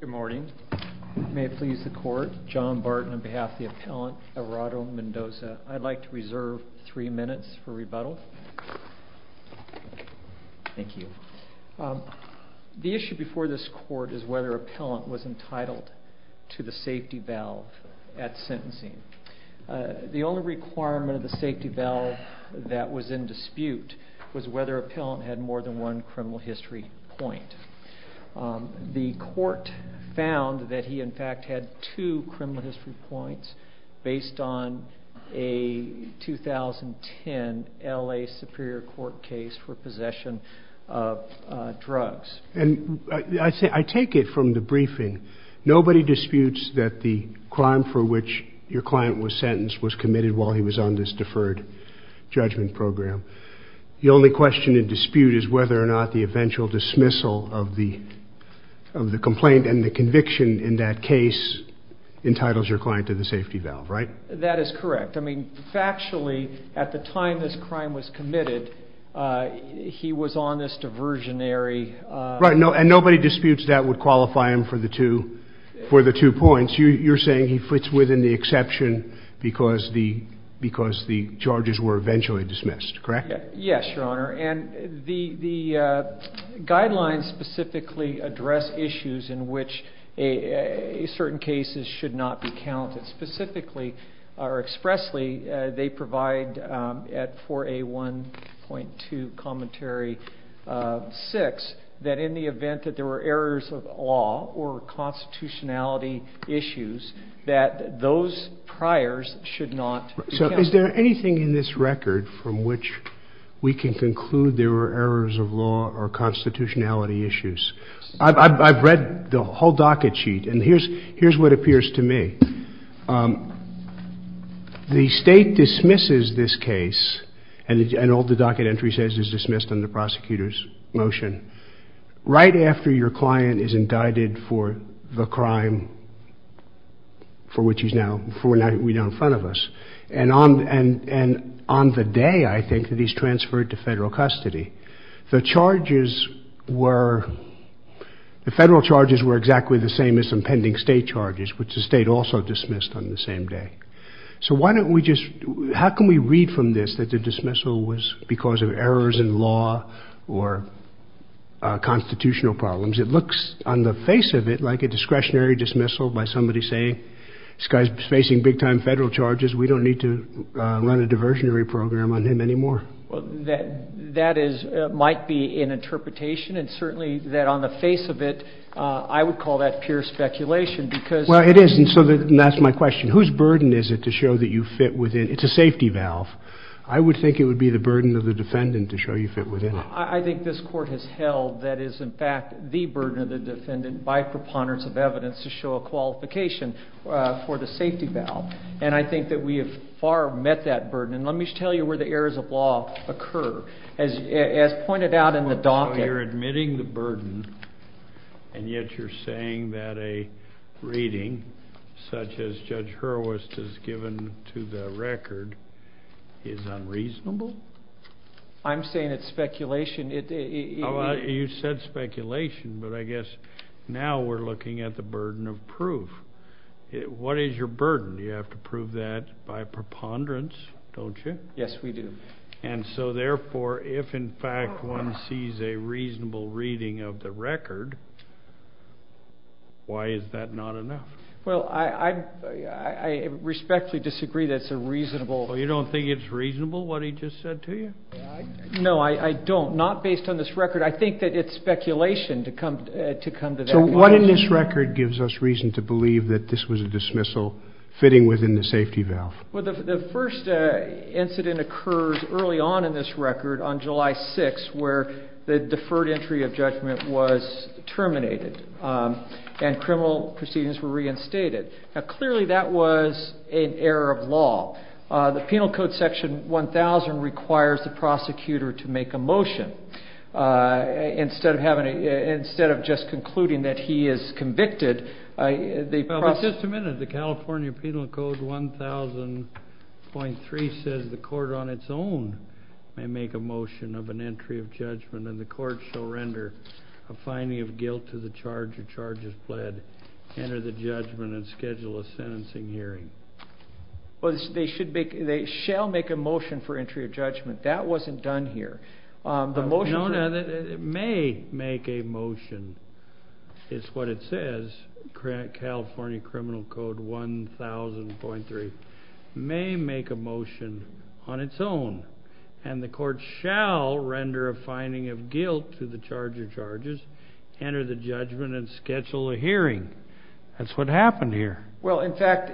Good morning. May it please the court, John Barton on behalf of the appellant Everardo Mendoza. I'd like to reserve three minutes for rebuttal. Thank you. The issue before this court is whether appellant was entitled to the safety valve at sentencing. The only requirement of the safety valve that was in dispute was whether appellant had more than one criminal history point. The court found that he in fact had two criminal history points based on a 2010 LA Superior Court case for possession of drugs. And I take it from the briefing, nobody disputes that the crime for which your client was sentenced was committed while he was on this deferred judgment program. The only question in dispute is whether or not the eventual dismissal of the complaint and the conviction in that case entitles your client to the safety valve, right? That is correct. I mean, factually, at the time this crime was committed, he was on this diversionary... Right, and nobody disputes that would qualify him for the two points. You're saying he fits within the exception because the charges were the same? The guidelines specifically address issues in which certain cases should not be counted. Specifically, or expressly, they provide at 4A1.2 Commentary 6, that in the event that there were errors of law or constitutionality issues, that those priors should not be counted. Is there anything in this record from which we can conclude there were errors of law or constitutionality issues? I've read the whole docket sheet, and here's what appears to me. The state dismisses this case, and all the docket entry says is dismissed under prosecutor's motion, right after your client is indicted for the crime for which he's now, for which we're in front of us. And on the day, I think, that he's transferred to federal custody, the charges were, the federal charges were exactly the same as some pending state charges, which the state also dismissed on the same day. So why don't we just, how can we read from this that the dismissal was because of errors in law or constitutional problems? It looks on the face of it like a We don't need to run a diversionary program on him anymore. Well, that is, might be an interpretation, and certainly that on the face of it, I would call that pure speculation because Well, it is, and so that's my question. Whose burden is it to show that you fit within, it's a safety valve. I would think it would be the burden of the defendant to show you fit within it. I think this court has held that is, in fact, the burden of the defendant by preponderance of evidence to a qualification for the safety valve. And I think that we have far met that burden. And let me just tell you where the errors of law occur. As pointed out in the docket. So you're admitting the burden, and yet you're saying that a reading such as Judge Hurwist has given to the record is unreasonable? I'm saying it's speculation. You said speculation, but I guess now we're looking at the burden of proof. What is your burden? You have to prove that by preponderance, don't you? Yes, we do. And so therefore, if in fact one sees a reasonable reading of the record, why is that not enough? Well, I respectfully disagree that it's a reasonable. You don't think it's reasonable what he just said to you? No, I don't. Not based on this record. I think that it's speculation to come to that conclusion. So what in this record gives us reason to believe that this was a dismissal fitting within the safety valve? Well, the first incident occurs early on in this record on July 6th, where the deferred entry of judgment was terminated and criminal proceedings were reinstated. Now clearly that was an error of law. The penal code section 1000 requires the prosecutor to make a motion. Instead of just concluding that he is convicted, they process... Well, but just a minute. The California Penal Code 1000.3 says the court on its own may make a motion of an entry of judgment and the court shall render a finding of guilt to the charge or charges pled, enter the judgment and schedule a sentencing hearing. Well, they should make, they shall make a motion for entry of judgment. That wasn't done here. The motion... No, no. It may make a motion. It's what it says. California Criminal Code 1000.3 may make a motion on its own and the court shall render a finding of guilt to the charge of charges, enter the judgment and schedule a hearing. That's what happened here. Well, in fact,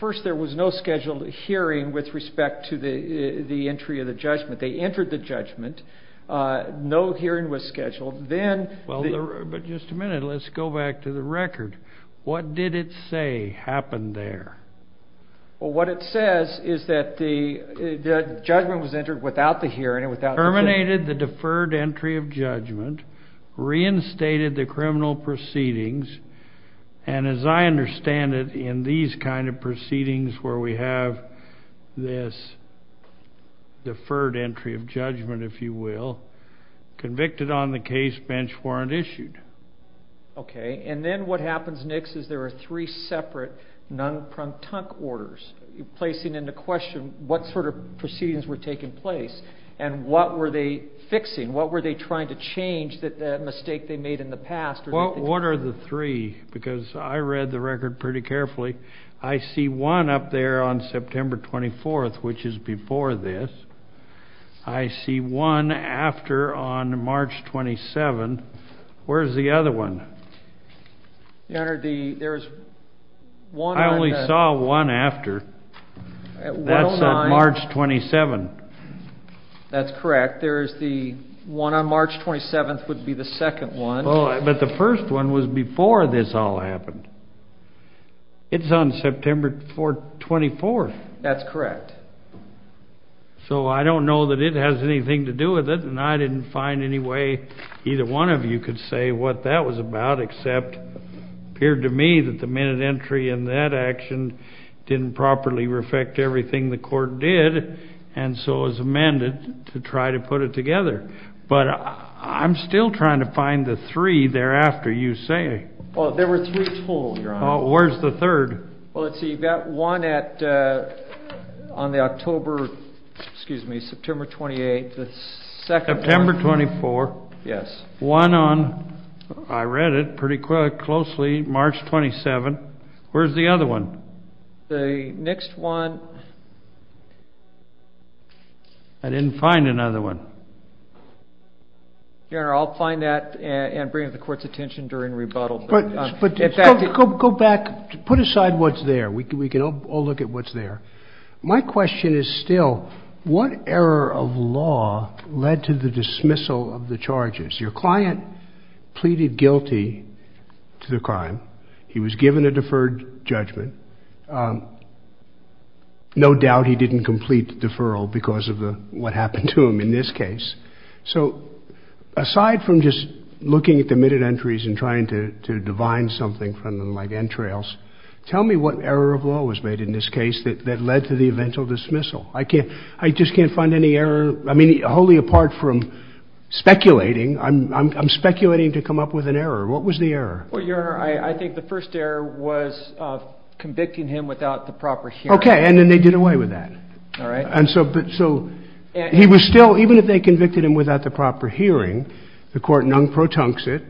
first there was no scheduled hearing with respect to the entry of the judgment. They entered the judgment. No hearing was scheduled. Then... Well, but just a minute. Let's go back to the record. What did it say happened there? Well, what it says is that the judgment was reinstated the criminal proceedings. And as I understand it in these kinds of proceedings, where we have this deferred entry of judgment, if you will, convicted on the case bench warrant issued. Okay. And then what happens next is there are three separate non-pronk-tonk orders placing into question what sort of proceedings were taking place and what were they fixing? What were they trying to change that mistake they made in the past? Well, what are the three? Because I read the record pretty carefully. I see one up there on September 24th, which is before this. I see one after on March 27. Where's the other one? Your Honor, there's one... I only saw one after. That's on March 27. That's correct. There's the one on March 27th would be the second one. But the first one was before this all happened. It's on September 24th. That's correct. So I don't know that it has anything to do with it. And I didn't find any way either one of you could say what that was about, except it appeared to me that the minute entry in that action didn't properly reflect everything the court did, and so it was amended to try to put it together. But I'm still trying to find the three thereafter you say. Well, there were three told, Your Honor. Where's the third? Well, let's see. You've got one on the October, excuse me, September 28th. September 24th. Yes. One on, I read it pretty closely, March 27th. Where's the other one? The next one... I didn't find another one. Your Honor, I'll find that and bring it to the court's attention during rebuttal. But go back, put aside what's there. We can all look at what's there. My question is still, what error of law led to the dismissal of the charges? Your client pleaded guilty to the crime. He was given a deferred judgment. No doubt he didn't complete the deferral because of what happened to him in this case. So aside from just looking at the minute entries and trying to divine something from them like that led to the eventual dismissal. I just can't find any error. I mean, wholly apart from speculating. I'm speculating to come up with an error. What was the error? Well, Your Honor, I think the first error was convicting him without the proper hearing. Okay. And then they did away with that. All right. And so he was still, even if they convicted him without the proper hearing, the court non-protuncts it.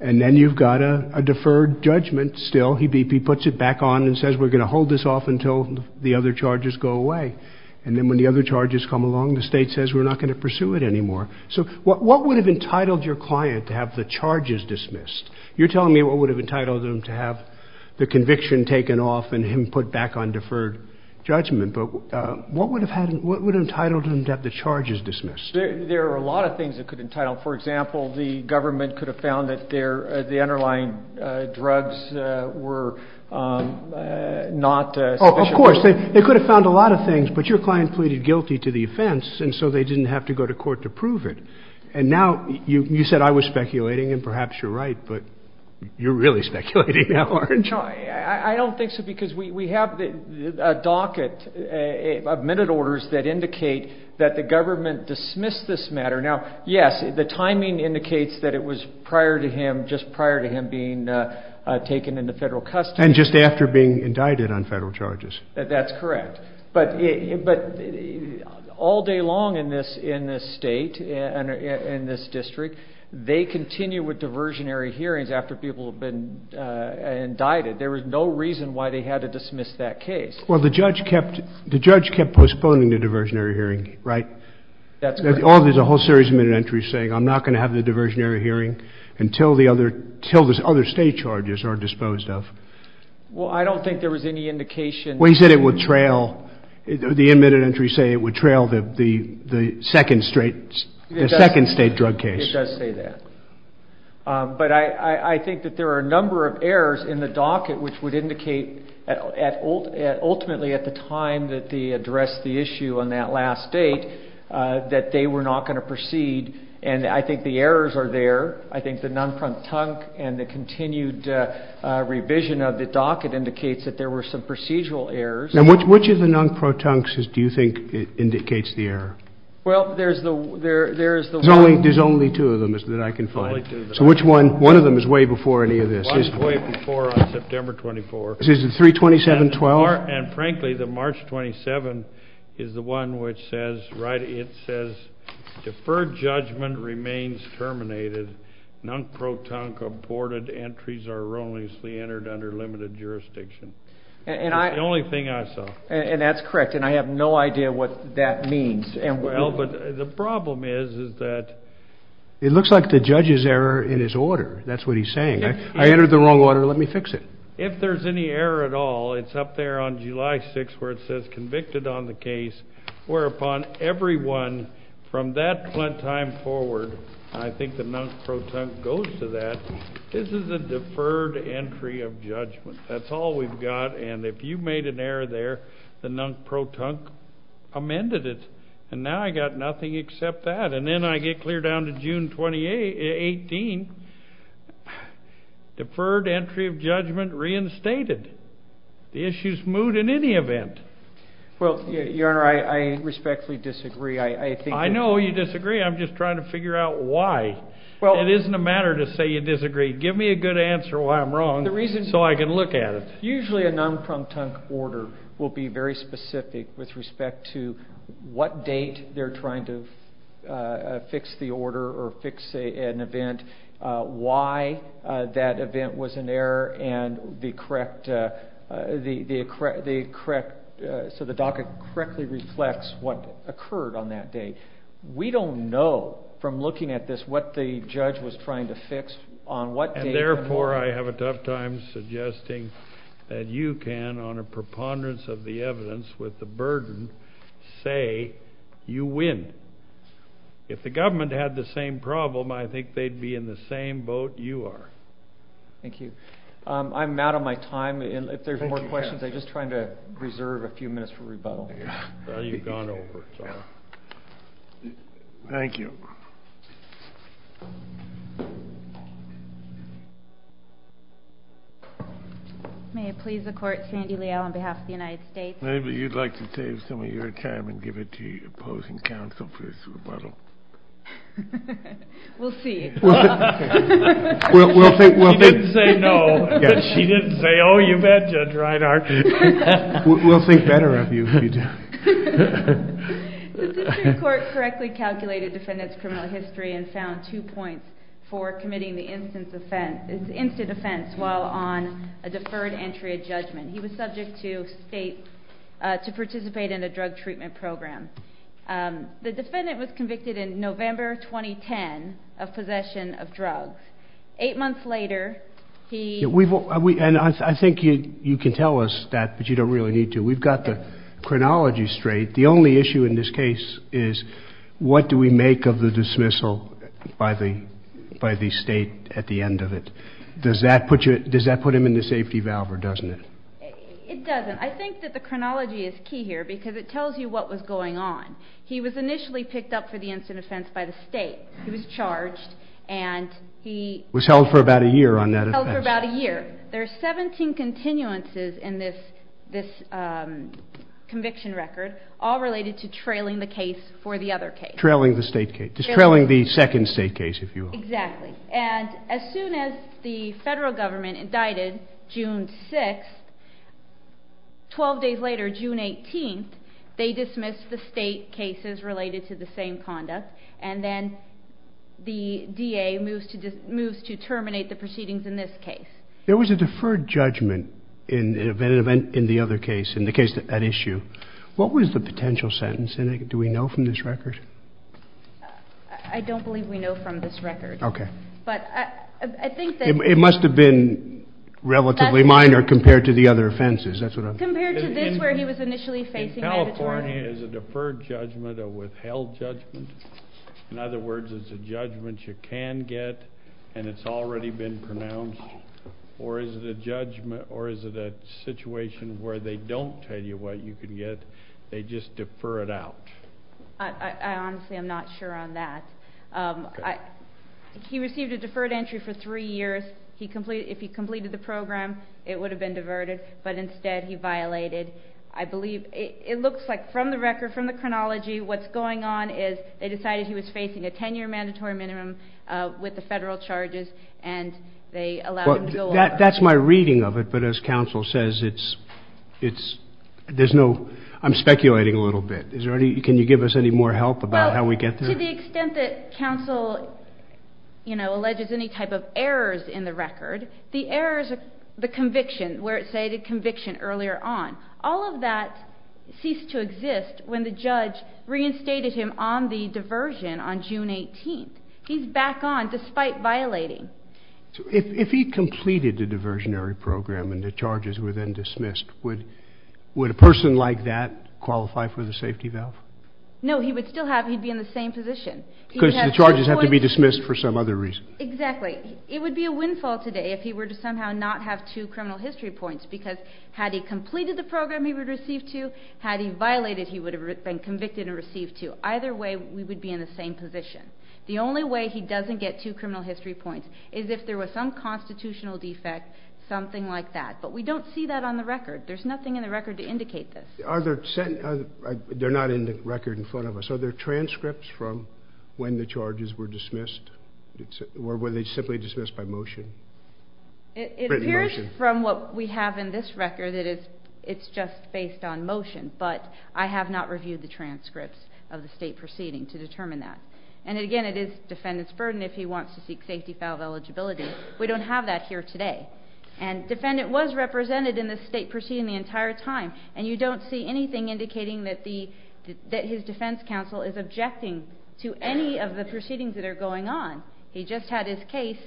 And then you've got a deferred judgment still. He puts it back on and says, we're going to hold this off until the other charges go away. And then when the other charges come along, the state says, we're not going to pursue it anymore. So what would have entitled your client to have the charges dismissed? You're telling me what would have entitled them to have the conviction taken off and him put back on deferred judgment. But what would have entitled him to have the charges dismissed? There are a lot of things that could entitle. For example, the government could have found that the underlying drugs were not sufficient. Oh, of course. They could have found a lot of things, but your client pleaded guilty to the offense. And so they didn't have to go to court to prove it. And now you said I was speculating, and perhaps you're right, but you're really speculating now, aren't you? No, I don't think so, because we have a docket of minute orders that indicate that the government dismissed this matter. Now, yes, the timing indicates that it was prior to him, just prior to him being taken into federal custody. And just after being indicted on federal charges. That's correct. But all day long in this state, in this district, they continue with diversionary hearings after people have been indicted. There was no reason why they had to dismiss that case. Well, the judge kept postponing the hearing, right? That's correct. There's a whole series of minute entries saying I'm not going to have the diversionary hearing until the other state charges are disposed of. Well, I don't think there was any indication... Well, he said it would trail, the minute entries say it would trail the second state drug case. It does say that. But I think that there are a number of errors in the docket which would that they were not going to proceed. And I think the errors are there. I think the non-protunct and the continued revision of the docket indicates that there were some procedural errors. Which of the non-protuncts do you think indicates the error? Well, there's the one... There's only two of them that I can find. Only two of them. So which one? One of them is way before any of this. It's way before on September 24th. Is it 3-27-12? And frankly, the March 27th is the one which says, right, it says deferred judgment remains terminated, non-protunct reported, entries are erroneously entered under limited jurisdiction. The only thing I saw. And that's correct. And I have no idea what that means. Well, but the problem is that... It looks like the judge's error in his order. That's what he's saying. I entered the wrong order, let me fix it. If there's any error at all, it's up there on July 6th, where it says convicted on the case, whereupon everyone from that time forward, I think the non-protunct goes to that. This is a deferred entry of judgment. That's all we've got. And if you made an error there, the non-protunct amended it. And now I got nothing except that. And then I get clear down to June 2018. Deferred entry of judgment reinstated. The issue's moved in any event. Well, your honor, I respectfully disagree. I think... I know you disagree. I'm just trying to figure out why. It isn't a matter to say you disagree. Give me a good answer why I'm wrong so I can look at it. Usually a non-protunct order will be very specific with respect to what date they're trying to fix the order or fix an event, why that event was an error, and the correct... So the docket correctly reflects what occurred on that date. We don't know from looking at this what the judge was trying to fix on what date... And therefore, I have a tough time suggesting that you can, on a preponderance of the evidence with the burden, say you win. If the government had the same problem, I think they'd be in the same boat you are. Thank you. I'm out of my time. And if there's more questions, I'm just trying to reserve a few minutes for rebuttal. Well, you've gone over, so... Thank you. May it please the court, Sandy Liao on behalf of the United States. Maybe you'd like to save some of your time and give it to the opposing counsel for this rebuttal. We'll see. He didn't say no, but she didn't say, oh, you bet, Judge Reinhart. We'll think better of you if you do. The district court correctly calculated defendant's criminal history and found two points for committing the instant offense while on a deferred entry of judgment. He was subject to state, to participate in a drug treatment program. The defendant was convicted in November 2010 of possession of drugs. Eight months later, he... And I think you can tell us that, but you don't really need to. We've got the chronology straight. The only issue in this case is what do we make of the dismissal by the state at the end of it? Does that put him in the safety valve or doesn't it? It doesn't. I think that the chronology is key here because it tells you what was going on. He was initially picked up for the instant offense by the state. He was charged and he... Was held for about a year on that offense. Held for about a year. There are 17 continuances in this conviction record, all related to trailing the case for the other case. Trailing the state case. Just trailing the second state case, if you will. Exactly. And as soon as the federal government indicted June 6th, 12 days later, June 18th, they dismissed the state cases related to the same conduct. And then the DA moves to terminate the proceedings in this case. There was a deferred judgment in the other case, in the case at issue. What was the potential sentence? And do we know from this record? I don't believe we know from this record. Okay. But I think that... It must have been relatively minor compared to the other offenses. That's what I'm... Compared to this where he was initially facing... In California, is it a deferred judgment or withheld judgment? In other words, is it a judgment you can get and it's already been pronounced? Or is it a judgment, or is it a situation where they don't tell you what you can get, they just defer it out? I honestly am not sure on that. He received a deferred entry for three years. If he completed the program, it would have been diverted, but instead he violated, I believe... It looks like from the record, from the chronology, what's going on is they decided he was facing a 10-year mandatory minimum with the federal charges and they allowed him to go... That's my reading of it, but as counsel says, it's... There's no... I'm speculating a little bit. Is there any... Can you give us any more help about how we get there? Well, to the extent that counsel alleges any type of errors in the record, the errors, the conviction, where it stated conviction earlier on, all of that ceased to exist when the judge reinstated him on the diversion on June 18th. He's back on despite violating. If he completed the diversionary program and the charges were then dismissed, would a person like that qualify for the safety valve? No, he would still have... He'd be in the same position. Because the charges have to be dismissed for some other reason. Exactly. It would be a windfall today if he were to somehow not have two criminal history points, because had he completed the program he would receive two, had he violated, he would have been convicted and received two. Either way, we would be in the same position. The only way he doesn't get two criminal history points is if there was some constitutional defect, something like that, but we don't see that on the record. There's nothing in the record to indicate this. Are there... They're not in the record in front of us. Are there transcripts from when the charges were dismissed? Or were they simply dismissed by motion? It appears from what we have in this record that it's just based on motion, but I have not reviewed the transcripts of the state proceeding to determine that. And again, it is defendant's burden if he wants to seek safety valve eligibility. We don't have that here today. And defendant was represented in the state proceeding the entire time, and you don't see anything indicating that his defense counsel is objecting to any of the proceedings that are going on. He just had his case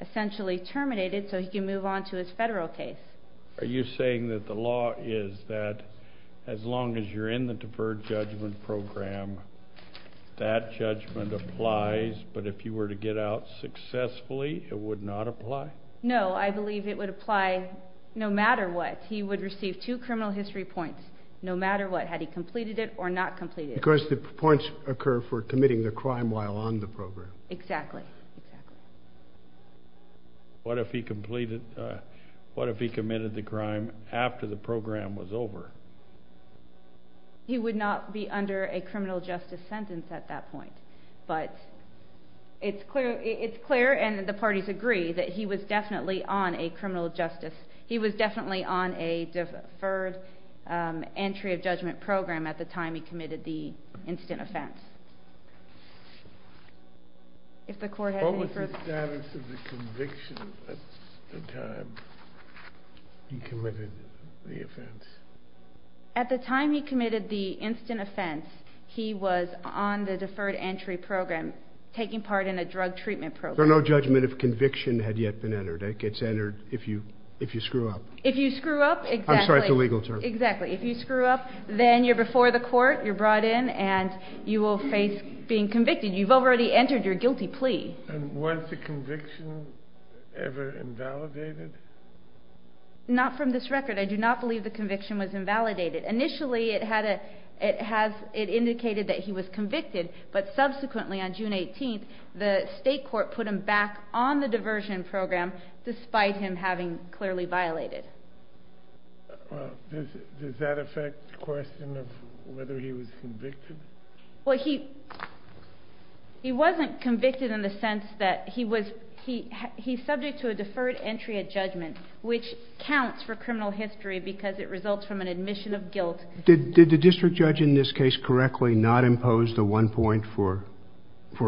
essentially terminated so he can move on to his federal case. Are you saying that the law is that as long as you're in the deferred judgment program, that judgment applies, but if you were to get out successfully, it would not apply? No, I believe it would apply no matter what. He would receive two criminal history points no matter what, had he completed it or not completed it. Because the points occur for committing the crime while on the program. Exactly. What if he completed... What if he committed the crime after the program was over? He would not be under a criminal justice sentence at that point. But it's clear, and the parties agree, that he was definitely on a criminal justice... He was definitely on a deferred entry of judgment program at the time he committed the instant offense. If the court has any further... What was the status of the conviction at the time he committed the offense? At the time he committed the instant offense, he was on the deferred entry program, taking part in a drug treatment program. No judgment of conviction had yet been entered. It gets entered if you screw up. If you screw up, exactly. I'm sorry, it's a legal term. Exactly. If you screw up, then you're before the court, you're brought in, and you will face being convicted. You've already entered your guilty plea. And was the conviction ever invalidated? Not from this record. I do not believe the conviction was invalidated. Initially, it indicated that he was convicted. But subsequently, on June 18th, the state court put him back on the diversion program, despite him having clearly violated. Does that affect the question of whether he was convicted? Well, he wasn't convicted in the sense that he was... He's subject to a deferred entry of judgment, which counts for criminal history because it results from an admission of guilt. Did the district judge in this case correctly not impose the one point for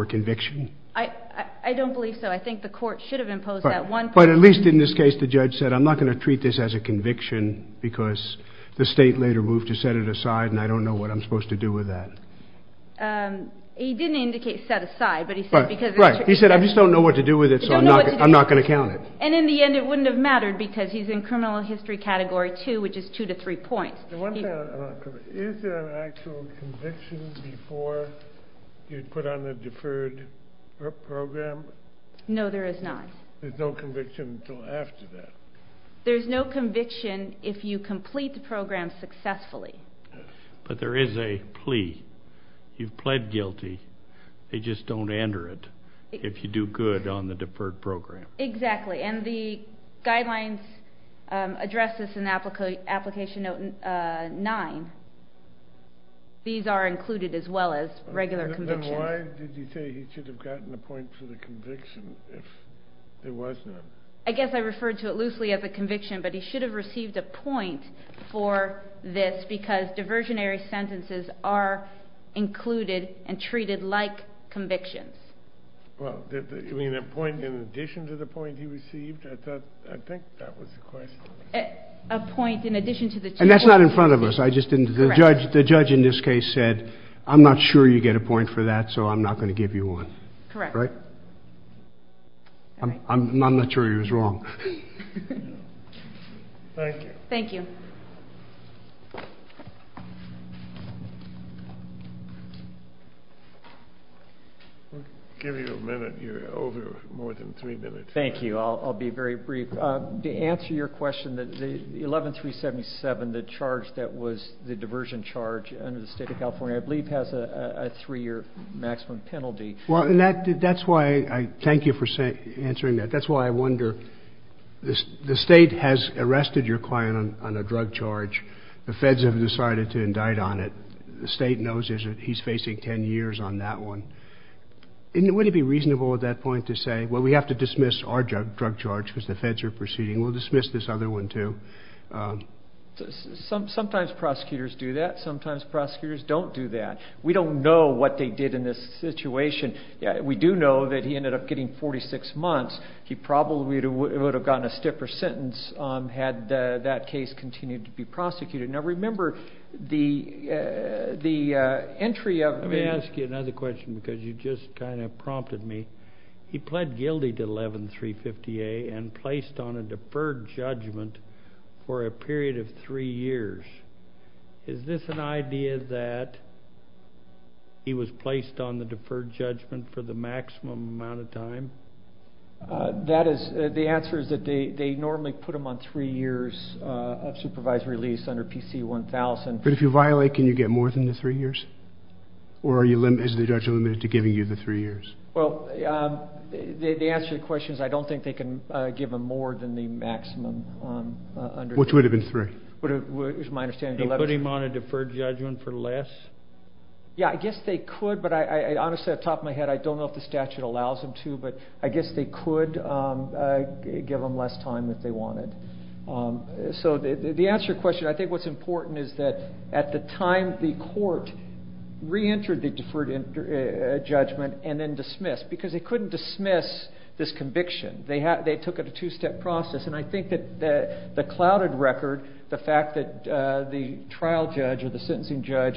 conviction? I don't believe so. I think the court should have imposed that one point. But at least in this case, the judge said, I'm not going to treat this as a conviction because the state later moved to set it aside, and I don't know what I'm supposed to do with that. He didn't indicate set aside, but he said because... Right. He said, I just don't know what to do with it, so I'm not going to count it. And in the end, it wouldn't have mattered because he's in criminal history category two, which is two to three points. Is there an actual conviction before you put on the deferred program? No, there is not. There's no conviction until after that? There's no conviction if you complete the program successfully. But there is a plea. You've pled guilty. They just don't enter it if you do good on the deferred program. Exactly. And the guidelines address this in application note nine. These are included as well as regular convictions. Then why did he say he should have gotten a point for the conviction if it wasn't? I guess I referred to it loosely as a conviction, but he should have received a point for this because diversionary sentences are included and treated like convictions. Well, you mean a point in addition to the point he received? I think that was the question. A point in addition to the two points. And that's not in front of us. The judge in this case said, I'm not sure you get a point for that, so I'm not going to give you one. Correct. Right? I'm not sure he was wrong. Thank you. Thank you. Give you a minute. You're over more than three minutes. Thank you. I'll be very brief. To answer your question, the 11-377, the charge that was the diversion charge under the state of California, I believe has a three-year maximum penalty. Well, that's why I thank you for answering that. That's why I wonder, the state has arrested your client on a drug charge. The feds have decided to indict on it. The state knows he's facing 10 years on that one. Would it be reasonable at that point to say, well, we have to dismiss our drug charge because the feds are proceeding. We'll dismiss this other one too. Sometimes prosecutors do that. Sometimes prosecutors don't do that. We don't know what they did in this situation. We do know that he ended up getting 46 months. He probably would have gotten a stiffer sentence had that case continued to be prosecuted. Remember, the entry of- Let me ask you another question because you just prompted me. He pled guilty to 11-350A and placed on a deferred judgment for a period of three years. Is this an idea that he was placed on the deferred judgment for the maximum amount of time? The answer is that they normally put him on three years of supervised release under PC-1000. But if you violate, can you get more than the three years? Or is the judge limited to giving you the three years? Well, the answer to the question is I don't think they can give him more than the maximum. Which would have been three? My understanding is 11-350A. They put him on a deferred judgment for less? Yeah, I guess they could, but honestly, off the top of my head, I don't know if the statute allows them to. But I guess they could give him less time if they wanted. So the answer to your question, I think what's important is that at the time the court reentered the deferred judgment and then dismissed because they couldn't dismiss this conviction. They took it a two-step process. And I think that the clouded record, the fact that the trial judge or the sentencing judge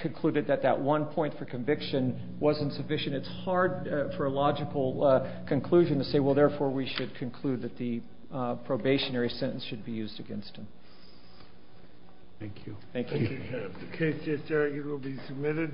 concluded that that one point for conviction wasn't sufficient. It's hard for a logical conclusion to say, well, therefore, we should conclude that the probationary sentence should be used against him. Thank you. Thank you. The case is there. It will be submitted.